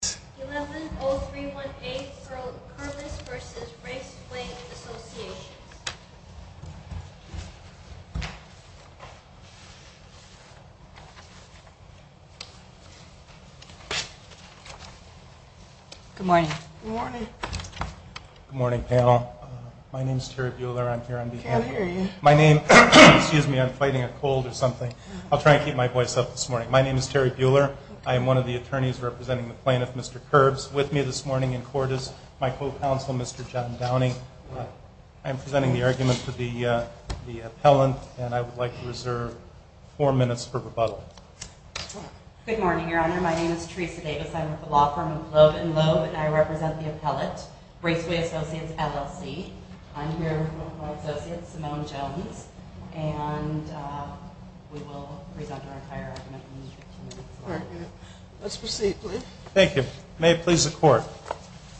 Good morning. Good morning. Good morning panel. My name's Terry Buehler. I'm here on behalf of... I can't hear you. My name... excuse me, I'm fighting a cold or something. I'll try and keep my voice up this morning. My name is Terry Buehler. I am one of the attorneys representing the plaintiff, Mr. Kerbes, with me this morning in court is my co-counsel, Mr. John Downing. I'm presenting the argument for the appellant and I would like to reserve four minutes for rebuttal. Good morning, Your Honor. My name is Teresa Davis. I'm with the law firm of Loeb & Loeb and I represent the appellant, Raceway Associates, LLC. I'm here Thank you. May it please the Court.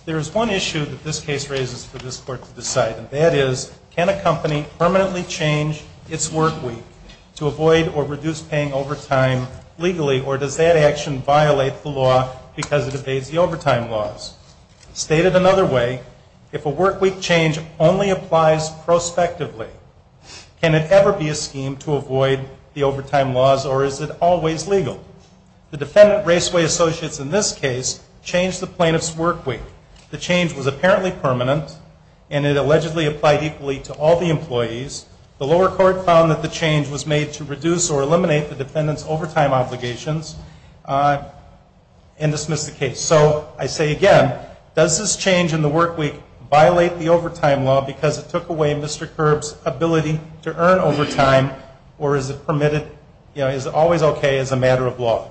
There is one issue that this case raises for this Court to decide and that is can a company permanently change its work week to avoid or reduce paying overtime legally or does that action violate the law because it evades the overtime laws? Stated another way, if a work week change only applies prospectively, can it ever be a scheme to avoid the overtime laws or is it always legal? The defendant, Raceway Associates, in this case, changed the plaintiff's work week. The change was apparently permanent and it allegedly applied equally to all the employees. The lower court found that the change was made to reduce or eliminate the defendant's overtime obligations and dismissed the case. So I say again, does this change in the work week violate the overtime law because it took away Mr. Kerbes' ability to earn overtime or is it permitted, you know, is it always okay as a matter of law?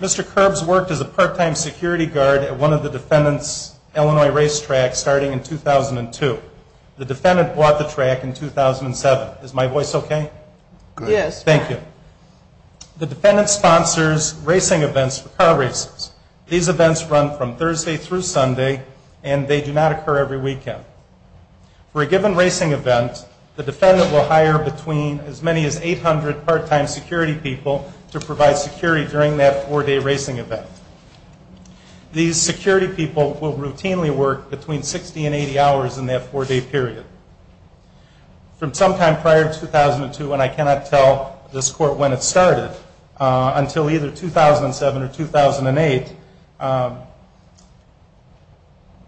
Mr. Kerbes worked as a part-time security guard at one of the defendant's Illinois racetracks starting in 2002. The defendant bought the track in 2007. Is my voice okay? Yes. Thank you. The defendant sponsors racing events for car races. These events run from Thursday through Sunday and they do not occur every part-time security people to provide security during that four-day racing event. These security people will routinely work between 60 and 80 hours in that four-day period. From sometime prior to 2002, and I cannot tell this court when it started, until either 2007 or 2008,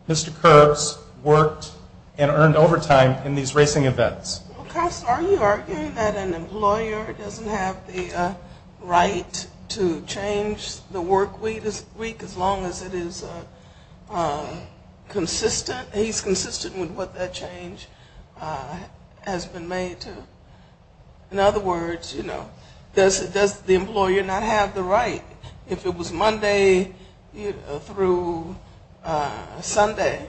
Mr. Kerbes worked and earned overtime in these racing events. Well, Koss, are you arguing that an employer doesn't have the right to change the work week as long as it is consistent, he's consistent with what that change has been made to? In other words, you know, does the employer not have the right? If it was Monday through Sunday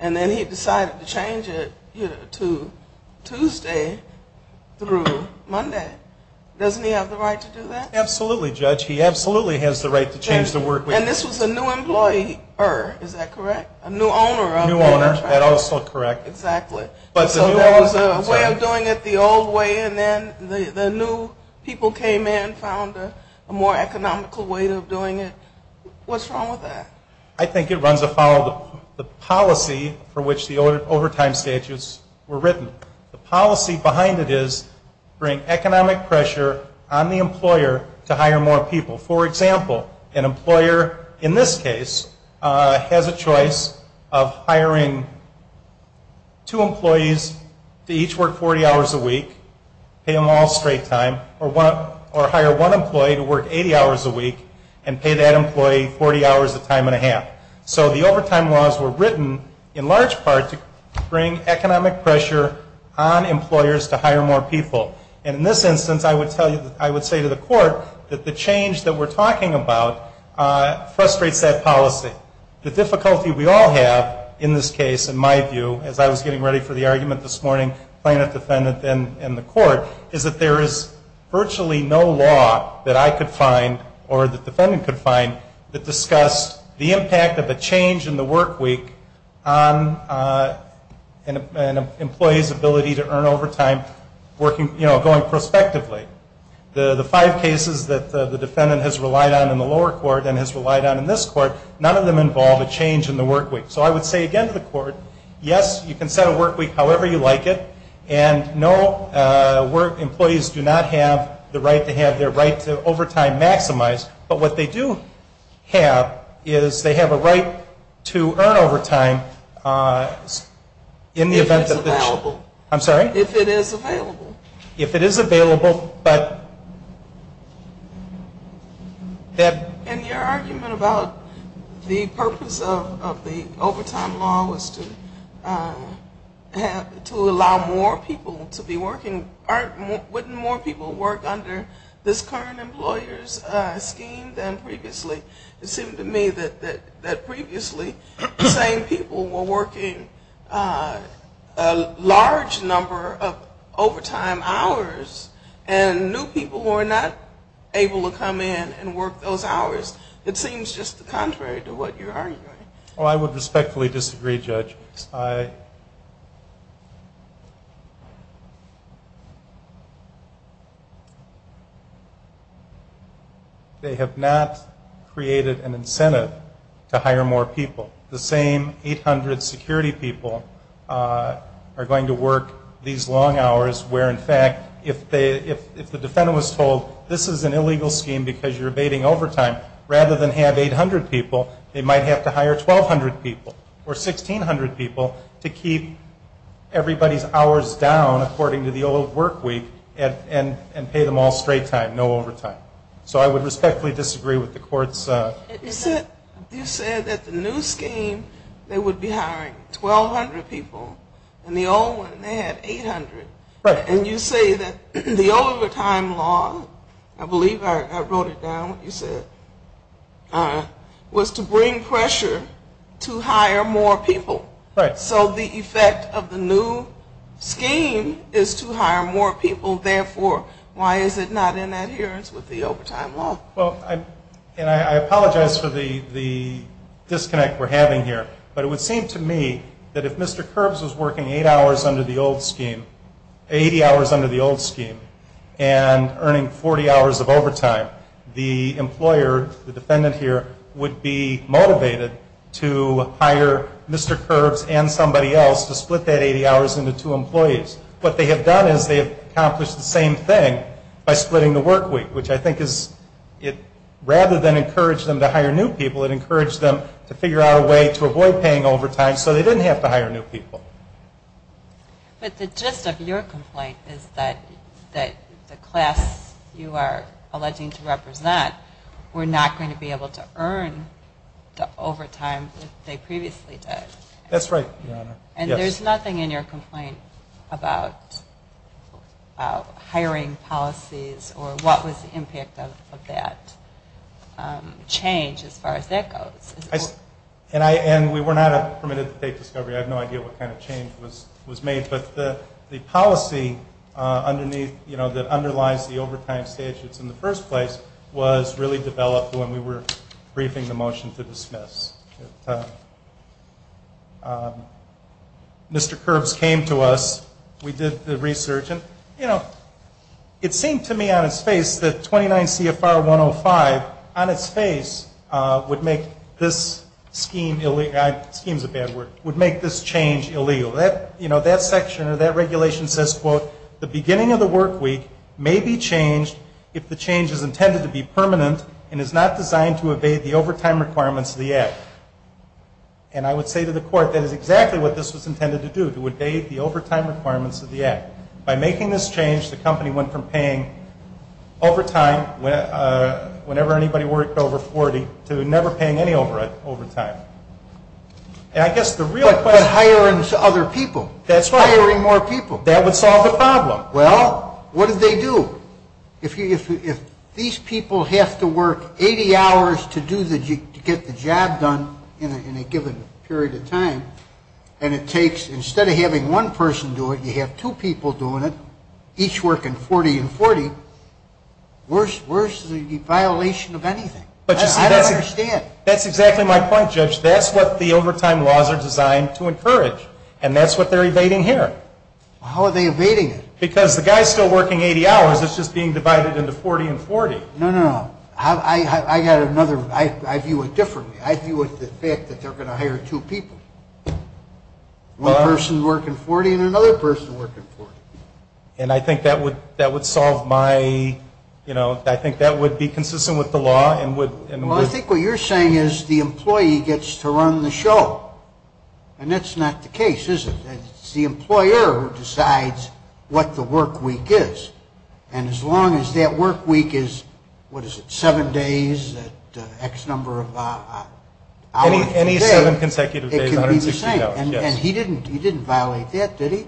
and then he decided to change it to Tuesday through Monday, doesn't he have the right to do that? Absolutely, Judge. He absolutely has the right to change the work week. And this was a new employer, is that correct? A new owner of the track? New owner, that is also correct. Exactly. So there was a way of doing it the old way and then the new people came in, found a more economical way of doing it. What's wrong with that? I think it runs afoul of the policy for which the overtime statutes were written. The policy behind it is bring economic pressure on the employer to hire more people. For example, an employer in this case has a choice of hiring two employees to each work 40 hours a week, pay them all straight time, or hire one employee to work 80 hours a week and pay that employee 40 hours of time and a half. So the overtime laws were written in large part to bring economic pressure on employers to hire more people. And in this instance, I would say to the court that the change that we're talking about frustrates that policy. The difficulty we all have in this case, in my view, as I was getting ready for the argument this morning, plaintiff, defendant, and the court, is that there is virtually no law that I could find or the defendant could find that discussed the impact of a change in the work week on an employee's ability to earn overtime, you know, going prospectively. The five cases that the defendant has relied on in the lower court and has relied on in this court, none of them involve a change in the work week. So I would say again to the court, yes, you can set a work week however you like it, and no work employees do not have the right to have their right to overtime maximized. But what they do have is they have a right to earn overtime in the event that the... If it's available. I'm sorry? If it is available. If it is available, but... And your argument about the purpose of the overtime law was to allow more people to be It seemed to me that previously, the same people were working a large number of overtime hours, and new people were not able to come in and work those hours. It seems just contrary to what you're arguing. Well, I would respectfully disagree, Judge. They have not created an incentive to hire more people. The same 800 security people are going to work these long hours where, in fact, if the defendant was told this is an illegal scheme because you're abating overtime, rather than have 800 people, they might have to hire 1,200 people or 1,600 people to keep everybody's hours down according to the old work week and pay them all straight time, no overtime. So I would respectfully disagree with the court's... You said that the new scheme, they would be hiring 1,200 people, and the old one, they had 800. Right. And you say that the overtime law, I believe I wrote it down, you said, was to bring pressure to hire more people. Right. So the effect of the new scheme is to hire more people. Therefore, why is it not in adherence with the overtime law? Well, and I apologize for the disconnect we're having here, but it would seem to me that if Mr. Curbs was working eight hours under the old scheme, 80 hours under the old scheme, and earning 40 hours of overtime, the employer, the defendant here, would be motivated to hire Mr. Curbs and somebody else to split that 80 hours into two employees. What they have done is they have accomplished the same thing by splitting the work week, which I think is, rather than encourage them to hire new people, it encouraged them to avoid paying overtime so they didn't have to hire new people. But the gist of your complaint is that the class you are alleging to represent were not going to be able to earn the overtime that they previously did. That's right, Your Honor. And there's nothing in your complaint about hiring policies or what was the impact of that change as far as that goes? And we were not permitted to take discovery. I have no idea what kind of change was made. But the policy underneath, you know, that underlies the overtime statutes in the first place was really developed when we were briefing the motion to dismiss. Mr. Curbs came to us, we did the research, and, you know, it seemed to me on its face that 29 CFR 105 on its face would make this scheme, scheme is a bad word, would make this change illegal. You know, that section or that regulation says, quote, the beginning of the work week may be changed if the change is intended to be permanent and is not designed to evade the overtime requirements of the Act. And I would say to the court that is exactly what this was intended to do, to evade the overtime requirements of the Act. By making this change, the company went from paying overtime whenever anybody worked over 40 to never paying any overtime. And I guess the real question But hiring other people. That's right. Hiring more people. That would solve the problem. Well, what do they do? If these people have to work 80 hours to get the job done in a given period of time, and it takes, instead of having one person do it, you have two people doing it, each working 40 and 40, where's the violation of anything? I don't understand. That's exactly my point, Judge. That's what the overtime laws are designed to encourage, and that's what they're evading here. Well, how are they evading it? Because the guy's still working 80 hours, it's just being divided into 40 and 40. No, no, no. I got another, I view it differently. I view it with the fact that they're going to hire two people, one person working 40 and another person working 40. And I think that would solve my, you know, I think that would be consistent with the law and would Well, I think what you're saying is the employee gets to run the show, and that's not the case, is it? It's the employer who decides what the work week is, and as long as that work week is, what is it, seven days at X number of hours a day, it can be the same. And he didn't violate that, did he?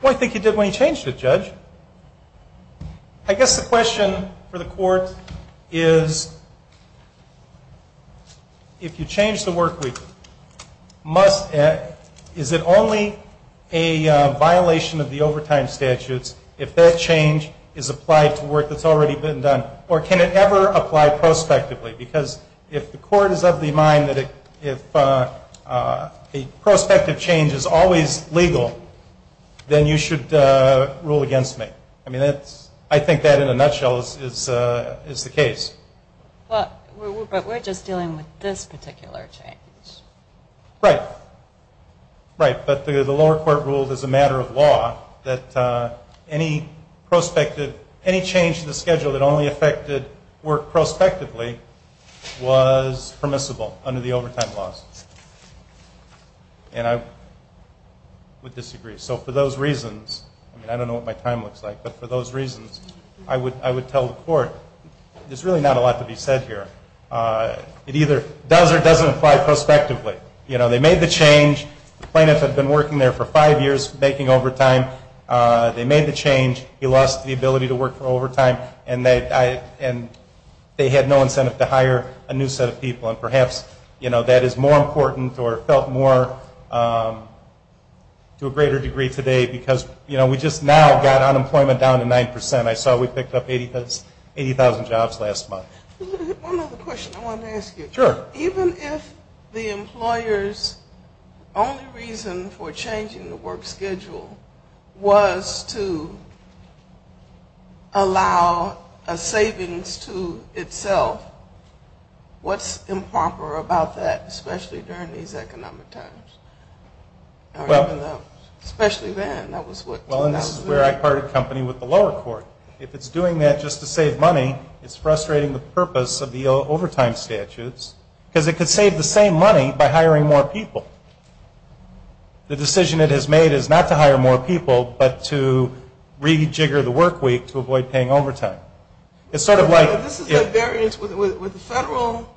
Well, I think he did when he changed it, Judge. I guess the question for the Court is, if you change the work week, is it only a violation of the overtime statutes if that change is applied to work that's already been done, or can it ever apply prospectively? Because if the Court is of the mind that if a prospective change is always legal, then you should rule against me. I mean, that's, I think that in a nutshell is the case. But we're just dealing with this particular change. Right. Right. But the lower court ruled as a matter of law that any prospective, any change to the schedule that only affected work prospectively was permissible under the overtime laws. And I would disagree. So for those reasons, I mean, I don't know what my time looks like, but for those reasons, I would tell the Court, there's really not a lot to be said here. It either does or doesn't apply prospectively. You know, they made the change, the plaintiff had been working there for five years making overtime. They made the change, he lost the ability to work for overtime, and they had no incentive to hire a new set of people. And perhaps, you know, that is more important or felt more to a greater degree today because, you know, we just now got unemployment down to 9%. I saw we picked up 80,000 jobs last month. One other question I wanted to ask you. Sure. Even if the employer's only reason for changing the work schedule was to allow a savings to itself, what's improper about that, especially during these economic times? Or even though, especially then, that was what... Well, and this is where I parted company with the lower court. If it's doing that just to save money, it's frustrating the purpose of the overtime statutes because it could save the same money by hiring more people. The decision it has made is not to hire more people, but to rejigger the work week to avoid paying overtime. It's sort of like... This is at variance with the federal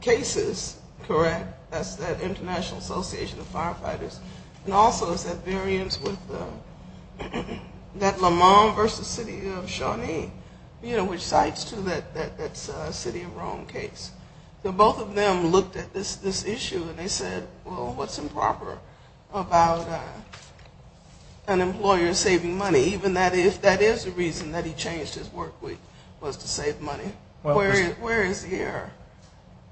cases, correct? That's the International Association of Firefighters. And also it's at variance with that Lamont v. City of Shawnee, you know, which cites too that City of Rome case. Both of them looked at this issue and they said, well, what's improper about an employer saving money, even if that is the reason that he changed his work week, was to save money? Where is the error?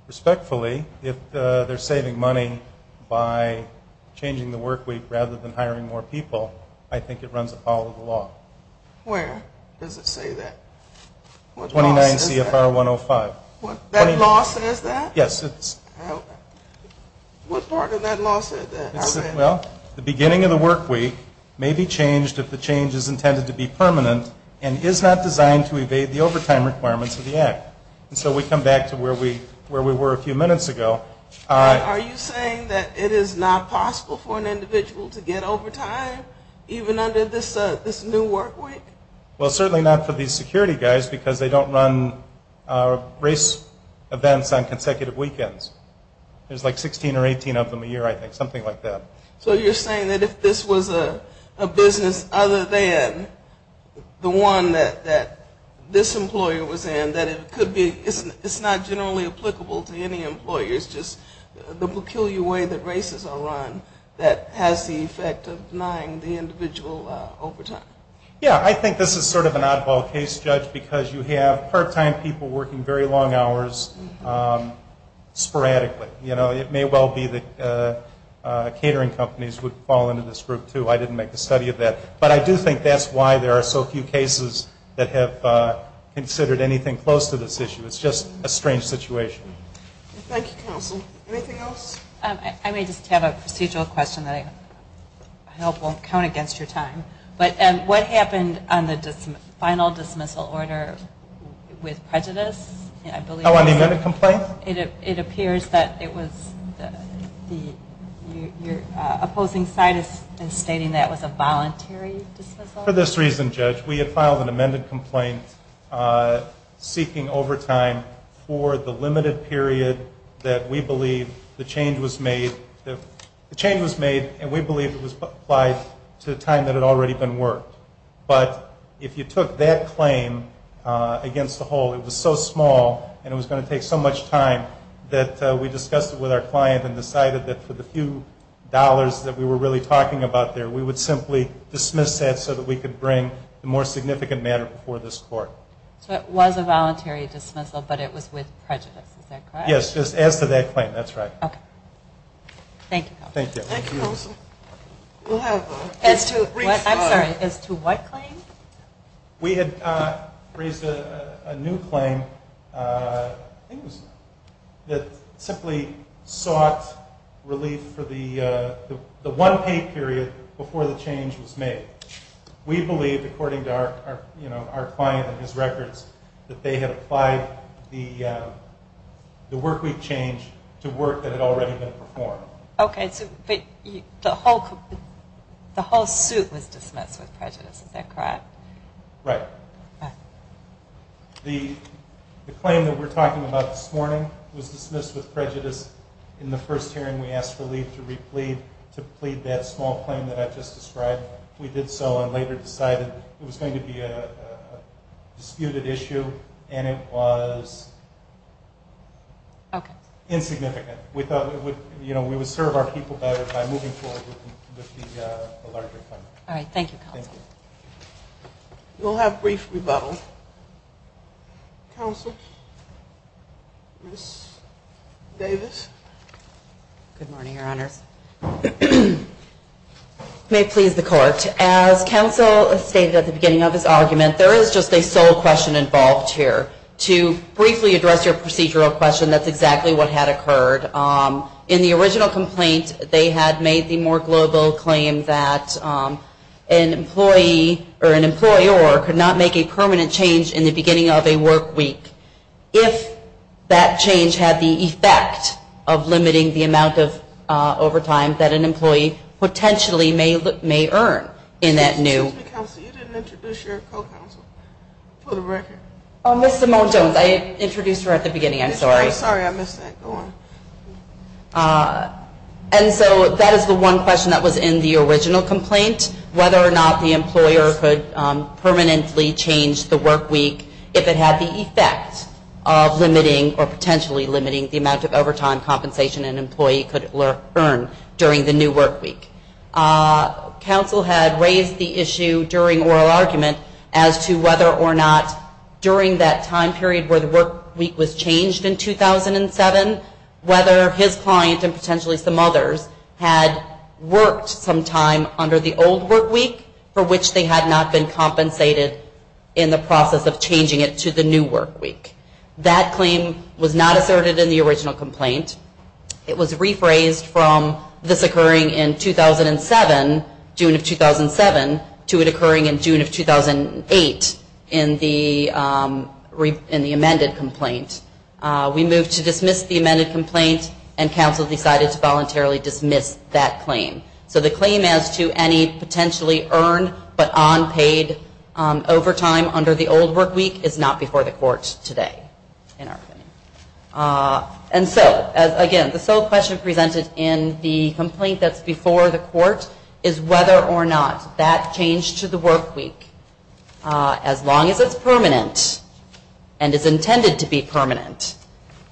Respectfully, if they're saving money by changing the work week rather than hiring more people, I think it runs apollo of the law. Where does it say that? 29 CFR 105. That law says that? Yes, it's... What part of that law said that? Well, the beginning of the work week may be changed if the change is intended to be permanent and is not designed to evade the overtime requirements of the act. So we come back to where we were a few minutes ago. Are you saying that it is not possible for an individual to get overtime even under this new work week? Well, certainly not for these security guys because they don't run race events on consecutive weekends. There's like 16 or 18 of them a year, I think. Something like that. So you're saying that if this was a business other than the one that this employer was in, that it could be... It's not generally applicable to any employer. It's just the peculiar way that races are run that has the effect of denying the individual overtime. Yeah, I think this is sort of an oddball case, Judge, because you have part-time people working very long hours sporadically. You know, it may well be that catering companies would fall into this group, too. I didn't make the study of that. But I do think that's why there are so few cases that have considered anything close to this issue. It's just a strange situation. Thank you, counsel. Anything else? I may just have a procedural question that I hope won't count against your time. What happened on the final dismissal order with prejudice? Oh, on the amendment complaint? It appears that it was... Your opposing side is stating that it was a voluntary dismissal? For this reason, Judge, we had filed an amended complaint seeking overtime for the limited period that we believe the change was made, and we believe it was applied to a time that had already been worked. But if you took that claim against the whole, it was so small, and it was going to take so much time, that we discussed it with our client and decided that for the few dollars that we were really talking about there, we would simply dismiss that so that we could bring the more significant matter before this court. So it was a voluntary dismissal, but it was with prejudice. Is that correct? Yes. As to that claim. That's right. Okay. Thank you. Thank you. Thank you, counsel. As to... I'm sorry. As to what claim? We had raised a new claim that simply sought relief for the one-pay period before the change was made. We believe, according to our client and his records, that they had applied the workweek change to work that had already been performed. Okay. But the whole suit was dismissed with prejudice. Is that correct? Right. Right. The claim that we're talking about this morning was dismissed with prejudice. In the first hearing, we asked relief to plead that small claim that I've just described. We did so and later decided it was going to be a disputed issue, and it was insignificant. We thought we would serve our people better by moving forward with the larger claim. All right. Thank you, counsel. Thank you. We'll have brief rebuttal. Counsel? Ms. Davis? Good morning, Your Honors. May it please the Court, as counsel stated at the beginning of his argument, there is just a sole question involved here. To briefly address your procedural question, that's exactly what had occurred. In the original complaint, they had made the more global claim that an employee or an employer could not make a permanent change in the beginning of a workweek if that change had the effect of limiting the amount of overtime that an employee potentially may earn in that new workweek. Excuse me, counsel. You didn't introduce your co-counsel. For the record. Oh, Ms. Simone-Jones. I introduced her at the beginning. I'm sorry. I'm sorry. I missed that. Go on. And so that is the one question that was in the original complaint, whether or not the employer could permanently change the workweek if it had the effect of limiting or potentially limiting the amount of overtime compensation an employee could earn during the new workweek. Counsel had raised the issue during oral argument as to whether or not during that time period where the workweek was changed in 2007, whether his client and potentially some others had worked some time under the old workweek for which they had not been compensated in the process of changing it to the new workweek. That claim was not asserted in the original complaint. It was rephrased from this occurring in 2007, June of 2007, to it occurring in June of 2008 in the amended complaint. We moved to dismiss the amended complaint and counsel decided to voluntarily dismiss that claim. So the claim as to any potentially earned but unpaid overtime under the old workweek is not before the court today in our opinion. And so, again, the sole question presented in the complaint that's before the court is whether or not that change to the workweek, as long as it's permanent and is intended to be permanent,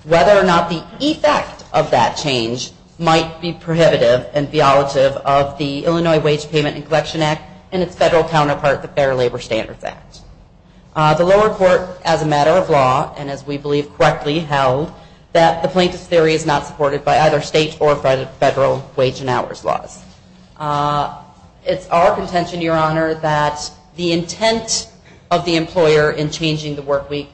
whether or not the effect of that change might be prohibitive and violative of the Illinois Wage Payment and Collection Act and its federal counterpart, the Fair Labor Standards Act. The lower court, as a matter of law, and as we believe correctly held, that the plaintiff's theory is not supported by either state or federal wage and hours laws. It's our contention, Your Honor, that the intent of the employer in changing the workweek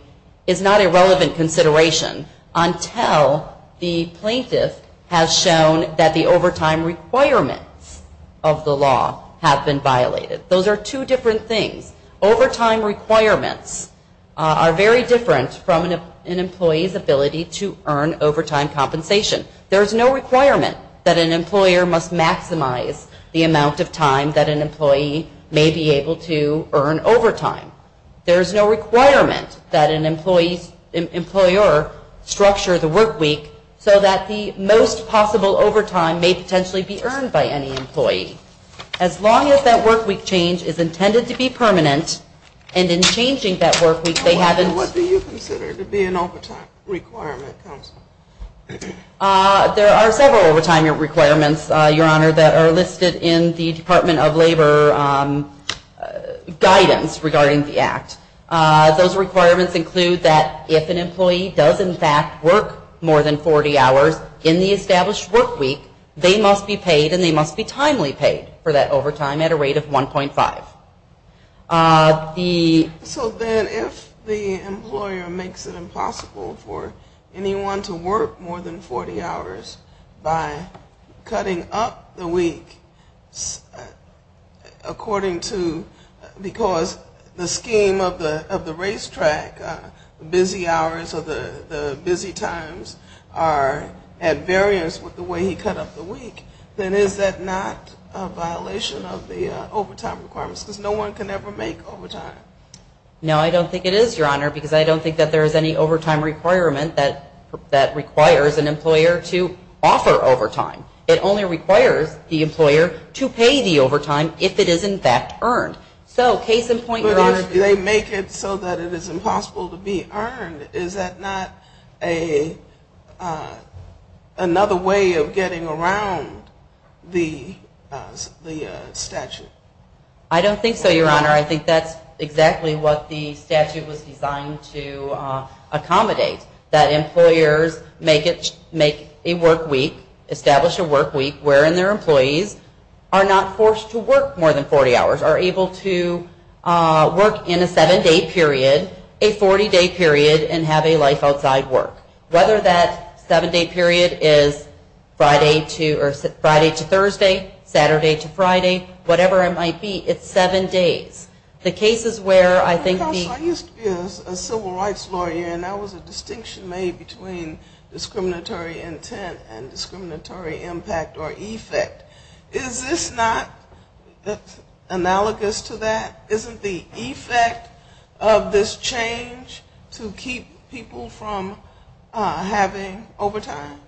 is not a relevant consideration until the plaintiff has shown that the overtime requirements of the law have been violated. Those are two different things. Overtime requirements are very different from an employee's ability to earn overtime compensation. There's no requirement that an employer must maximize the amount of time that an employee may be able to earn overtime. There's no requirement that an employer structure the workweek so that the most possible overtime may potentially be earned by any employee. As long as that workweek change is intended to be permanent and in changing that workweek, they haven't... What do you consider to be an overtime requirement, counsel? There are several overtime requirements, Your Honor, that are listed in the Department of Labor guidance regarding the Act. Those requirements include that if an employee does, in fact, work more than 40 hours in the established workweek, they must be paid and they must be timely paid for that overtime at a rate of 1.5. So then if the employer makes it impossible for anyone to work more than 40 hours by cutting up the week according to... No, I don't think it is, Your Honor, because I don't think that there is any overtime requirement that requires an employer to offer overtime. It only requires the employer to pay the overtime if it is, in fact, earned. So case in point, Your Honor... If they make it so that it is impossible to be earned, is that not another way of getting around the statute? I don't think so, Your Honor. I think that's exactly what the statute was designed to accommodate, that employers make a workweek, establish a workweek, wherein their employees are not forced to work more than 40 hours, are able to work in a seven-day period, a 40-day period, and have a life outside work. Whether that seven-day period is Friday to Thursday, Saturday to Friday, whatever it might be, it's seven days. The cases where I think... Counsel, I used to be a civil rights lawyer and there was a distinction made between discriminatory intent and discriminatory impact or effect. Is this not analogous to that? Isn't the effect of this change to keep people from having overtime?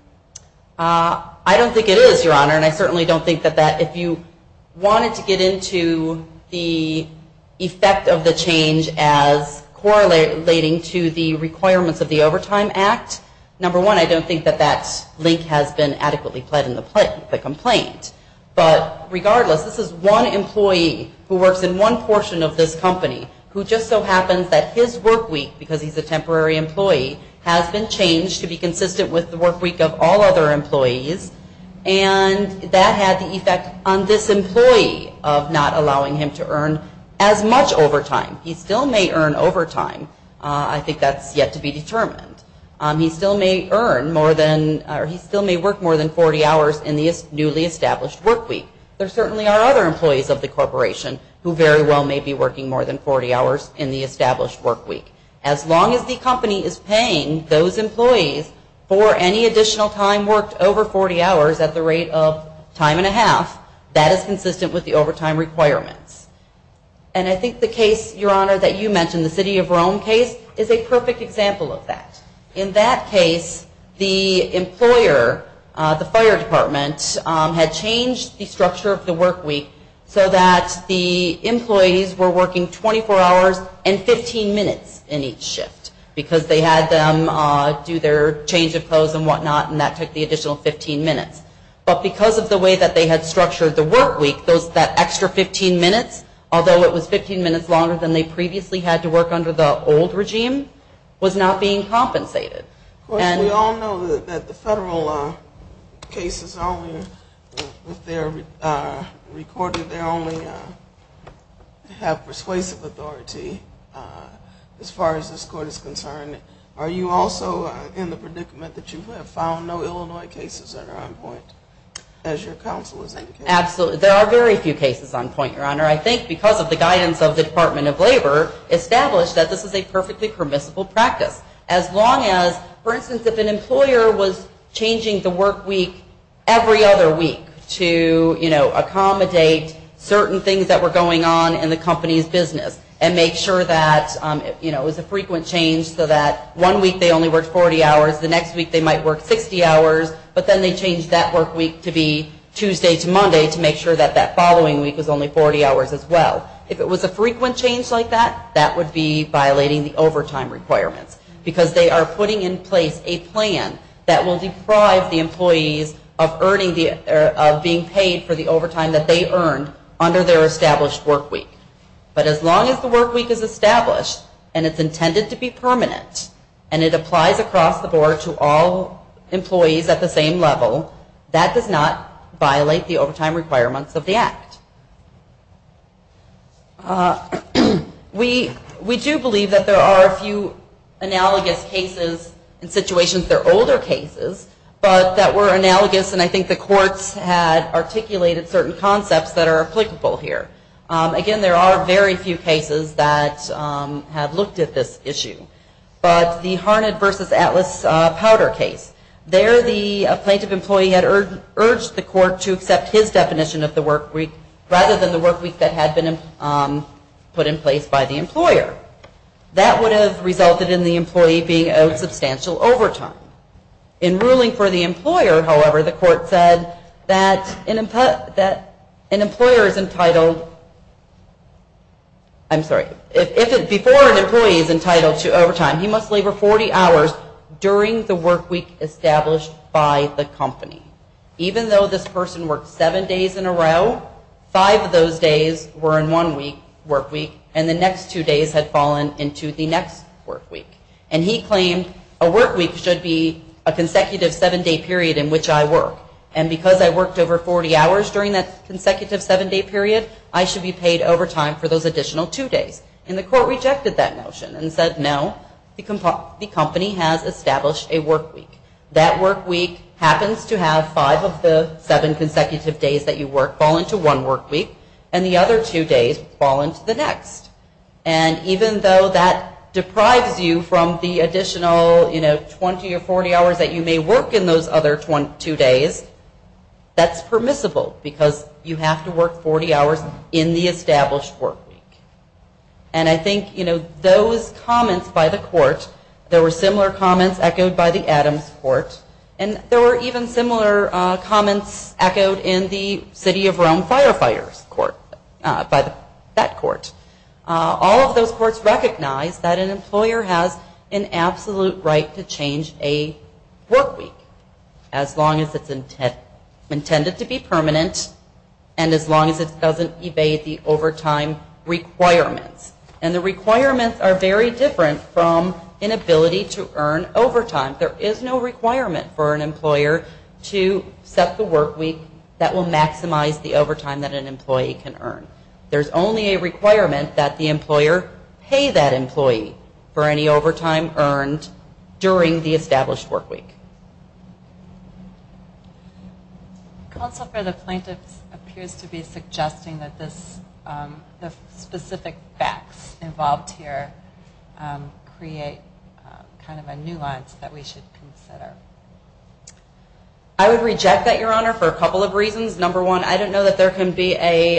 I don't think it is, Your Honor, and I certainly don't think that if you wanted to get into the effect of the change as correlating to the requirements of the Overtime Act, number one, I don't think that that link has been adequately pled in the complaint, but regardless, this is one employee who works in one portion of this company who just so happens that his workweek, because he's a temporary employee, has been changed to be consistent with the workweek of all other employees, and that had the effect on this employee of not allowing him to earn as much overtime. He still may earn overtime. I think that's yet to be determined. He still may work more than 40 hours in the newly established workweek. There certainly are other employees of the corporation who very well may be working more than 40 hours in the established workweek. As long as the company is paying those employees for any additional time worked over 40 hours at the rate of time and a half, that is consistent with the overtime requirements. And I think the case, Your Honor, that you mentioned, the city of Rome case, is a perfect example of that. In that case, the employer, the fire department, had changed the structure of the workweek so that the employees were working 24 hours and 15 minutes in each shift, because they had them do their change of clothes and whatnot, and that took the additional 15 minutes. But because of the way that they had structured the workweek, that extra 15 minutes, although it was 15 minutes longer than they previously had to work under the old regime, was not being compensated. Of course, we all know that the federal cases only, if they're recorded, they only have persuasive authority as far as this court is concerned. Are you also in the predicament that you have found no Illinois cases that are on point, as your counsel has indicated? Absolutely. There are very few cases on point, Your Honor. I think because of the guidance of the Department of Labor, established that this is a perfectly permissible practice. As long as, for instance, if an employer was changing the workweek every other week to, you know, accommodate certain things that were going on in the company's business and make sure that, you know, it was a frequent change so that one week they only worked 40 hours, the next week they might work 60 hours, but then they changed that workweek to be 40 hours as well. If it was a frequent change like that, that would be violating the overtime requirements because they are putting in place a plan that will deprive the employees of being paid for the overtime that they earned under their established workweek. But as long as the workweek is established and it's intended to be permanent and it applies across the board to all employees at the same level, that does not violate the overtime requirements of the Act. We do believe that there are a few analogous cases in situations that are older cases, but that were analogous and I think the courts had articulated certain concepts that are applicable here. Again, there are very few cases that have looked at this issue. But the Harned v. Atlas Powder case, there the plaintiff employee had urged the court to accept his definition of the workweek rather than the workweek that had been put in place by the employer. That would have resulted in the employee being owed substantial overtime. In ruling for the employer, however, the court said that an employer is entitled, I'm sorry, before an employee is entitled to overtime, he must labor 40 hours during the workweek established by the company. Even though this person worked seven days in a row, five of those days were in one workweek and the next two days had fallen into the next workweek. And he claimed a workweek should be a consecutive seven-day period in which I work. And because I worked over 40 hours during that consecutive seven-day period, I should be paid overtime for those additional two days. And the court rejected that notion and said no, the company has established a workweek. That workweek happens to have five of the seven consecutive days that you work fall into one workweek and the other two days fall into the next. And even though that deprives you from the additional, you know, 20 or 40 hours that you may work in those other two days, that's permissible because you have to work 40 hours in the established workweek. And I think, you know, those comments by the court, there were similar comments echoed by the Adams Court and there were even similar comments echoed in the City of Rome Firefighters Court by that court. All of those courts recognized that an employer has an absolute right to change a workweek as long as it's intended to be permanent and as long as it doesn't evade the overtime requirements. And the requirements are very different from inability to earn overtime. There is no requirement for an employer to set the workweek that will maximize the overtime that an employee can earn. There's only a requirement that the employer pay that employee for any overtime earned during the established workweek. The counsel for the plaintiffs appears to be suggesting that this, the specific facts involved here create kind of a nuance that we should consider. I would reject that, Your Honor, for a couple of reasons. Number one, I don't know that there can be a,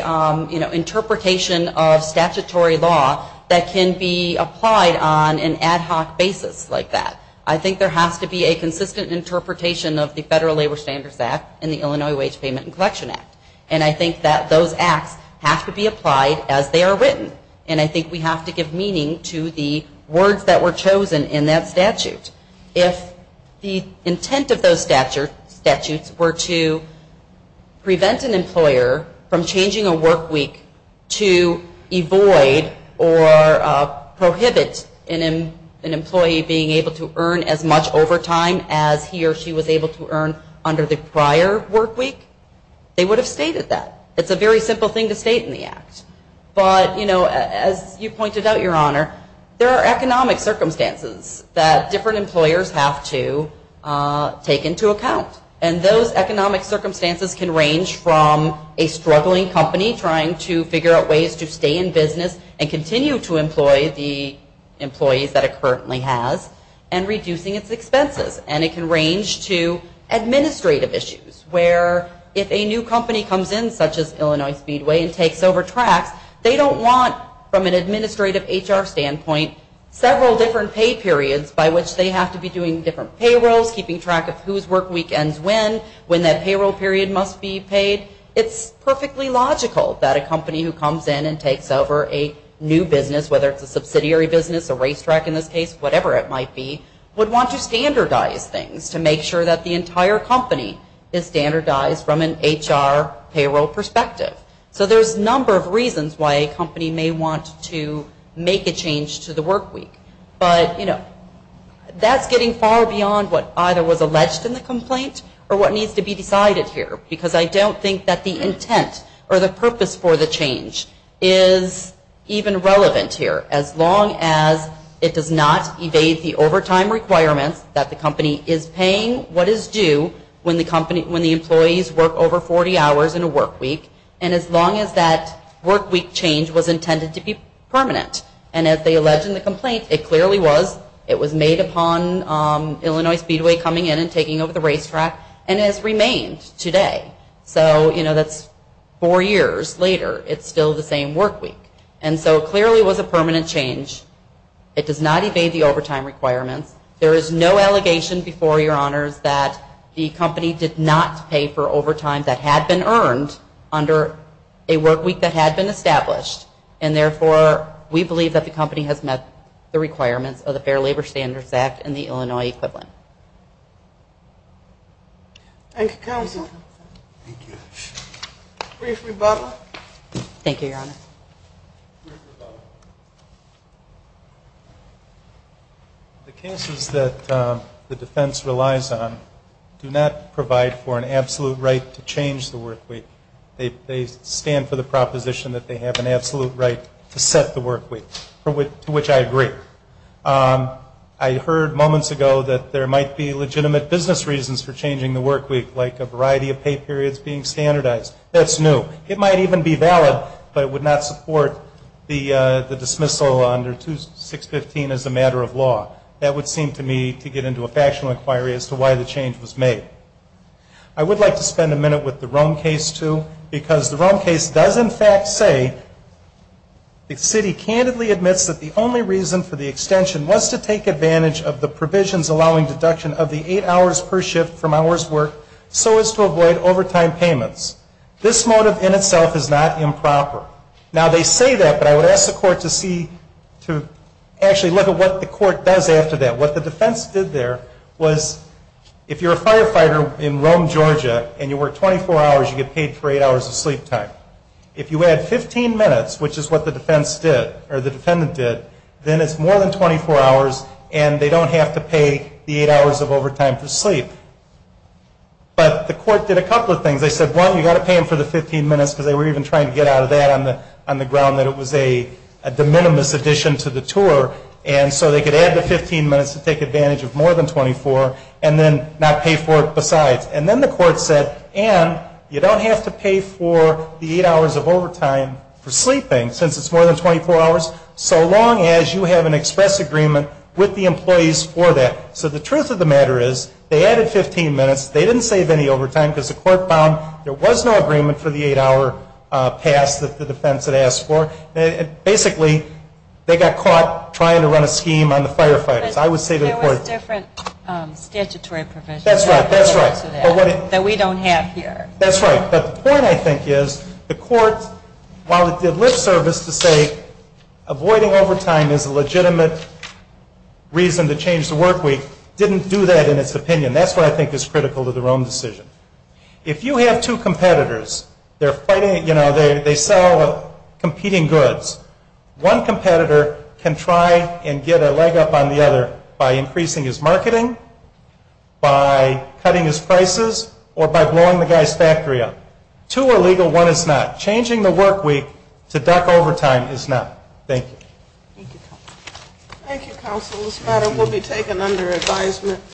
you know, interpretation of statutory law that can be applied on an ad hoc basis like that. I think there has to be a consistent interpretation of the Federal Labor Standards Act and the Illinois Wage Payment and Collection Act. And I think that those acts have to be applied as they are written. And I think we have to give meaning to the words that were chosen in that statute. If the intent of those statutes were to prevent an employer from changing a workweek to avoid or prohibit an employee being able to earn as much overtime as he or she was able to earn under the prior workweek, they would have stated that. It's a very simple thing to state in the act. But, you know, as you pointed out, Your Honor, there are economic circumstances that different employers have to take into account. And those economic circumstances can range from a struggling company trying to figure out ways to stay in business and continue to employ the employees that it currently has and reducing its expenses. And it can range to administrative issues where if a new company comes in, such as Illinois Speedway, and takes over tracks, they don't want, from an administrative HR standpoint, several different pay periods by which they have to be doing different payrolls, keeping track of whose work weekends when, when that payroll period must be paid. It's perfectly logical that a company who comes in and takes over a new business, whether it's a subsidiary business, a racetrack in this case, whatever it might be, would want to standardize things to make sure that the entire company is standardized from an HR payroll perspective. So there's a number of reasons why a company may want to make a change to the workweek. But, you know, that's getting far beyond what either was alleged in the complaint or what I don't think that the intent or the purpose for the change is even relevant here. As long as it does not evade the overtime requirements that the company is paying what is due when the company, when the employees work over 40 hours in a workweek, and as long as that workweek change was intended to be permanent. And as they allege in the complaint, it clearly was. It was made upon Illinois Speedway coming in and taking over the racetrack and has remained today. So, you know, that's four years later. It's still the same workweek. And so clearly it was a permanent change. It does not evade the overtime requirements. There is no allegation before your honors that the company did not pay for overtime that had been earned under a workweek that had been established. And therefore, we believe that the company has met the requirements of the Fair Labor Standards Act and the Illinois equivalent. Thank you, counsel. Thank you. Brief rebuttal. Thank you, your honors. Brief rebuttal. The cases that the defense relies on do not provide for an absolute right to change the workweek. They stand for the proposition that they have an absolute right to set the workweek, to which I agree. I heard moments ago that there might be legitimate business reasons for changing the workweek, like a variety of pay periods being standardized. That's new. It might even be valid, but it would not support the dismissal under 2615 as a matter of law. That would seem to me to get into a factional inquiry as to why the change was made. I would like to spend a minute with the Rome case, too, because the Rome case does in fact the city candidly admits that the only reason for the extension was to take advantage of the provisions allowing deduction of the eight hours per shift from hours worked so as to avoid overtime payments. This motive in itself is not improper. Now, they say that, but I would ask the court to see to actually look at what the court does after that. What the defense did there was if you're a firefighter in Rome, Georgia, and you work 24 hours, you get paid for eight hours of sleep time. If you add 15 minutes, which is what the defense did, or the defendant did, then it's more than 24 hours, and they don't have to pay the eight hours of overtime for sleep. But the court did a couple of things. They said, one, you've got to pay them for the 15 minutes, because they were even trying to get out of that on the ground that it was a de minimis addition to the tour, and so they could add the 15 minutes to take advantage of more than 24, and then not pay for it besides. And then the court said, and you don't have to pay for the eight hours of overtime for sleeping since it's more than 24 hours so long as you have an express agreement with the employees for that. So the truth of the matter is, they added 15 minutes. They didn't save any overtime because the court found there was no agreement for the eight-hour pass that the defense had asked for. Basically, they got caught trying to run a scheme on the firefighters. I would say to the court. There was different statutory provisions. That's right. That we don't have here. That's right. But the point, I think, is the court, while it did lip service to say avoiding overtime is a legitimate reason to change the work week, didn't do that in its opinion. That's what I think is critical to the Rome decision. If you have two competitors, they're fighting, you know, they sell competing goods. One competitor can try and get a leg up on the other by increasing his marketing, by cutting his prices, or by blowing the guy's factory up. Two are legal. One is not. Changing the work week to duck overtime is not. Thank you. Thank you, counsel. This matter will be taken under advisement.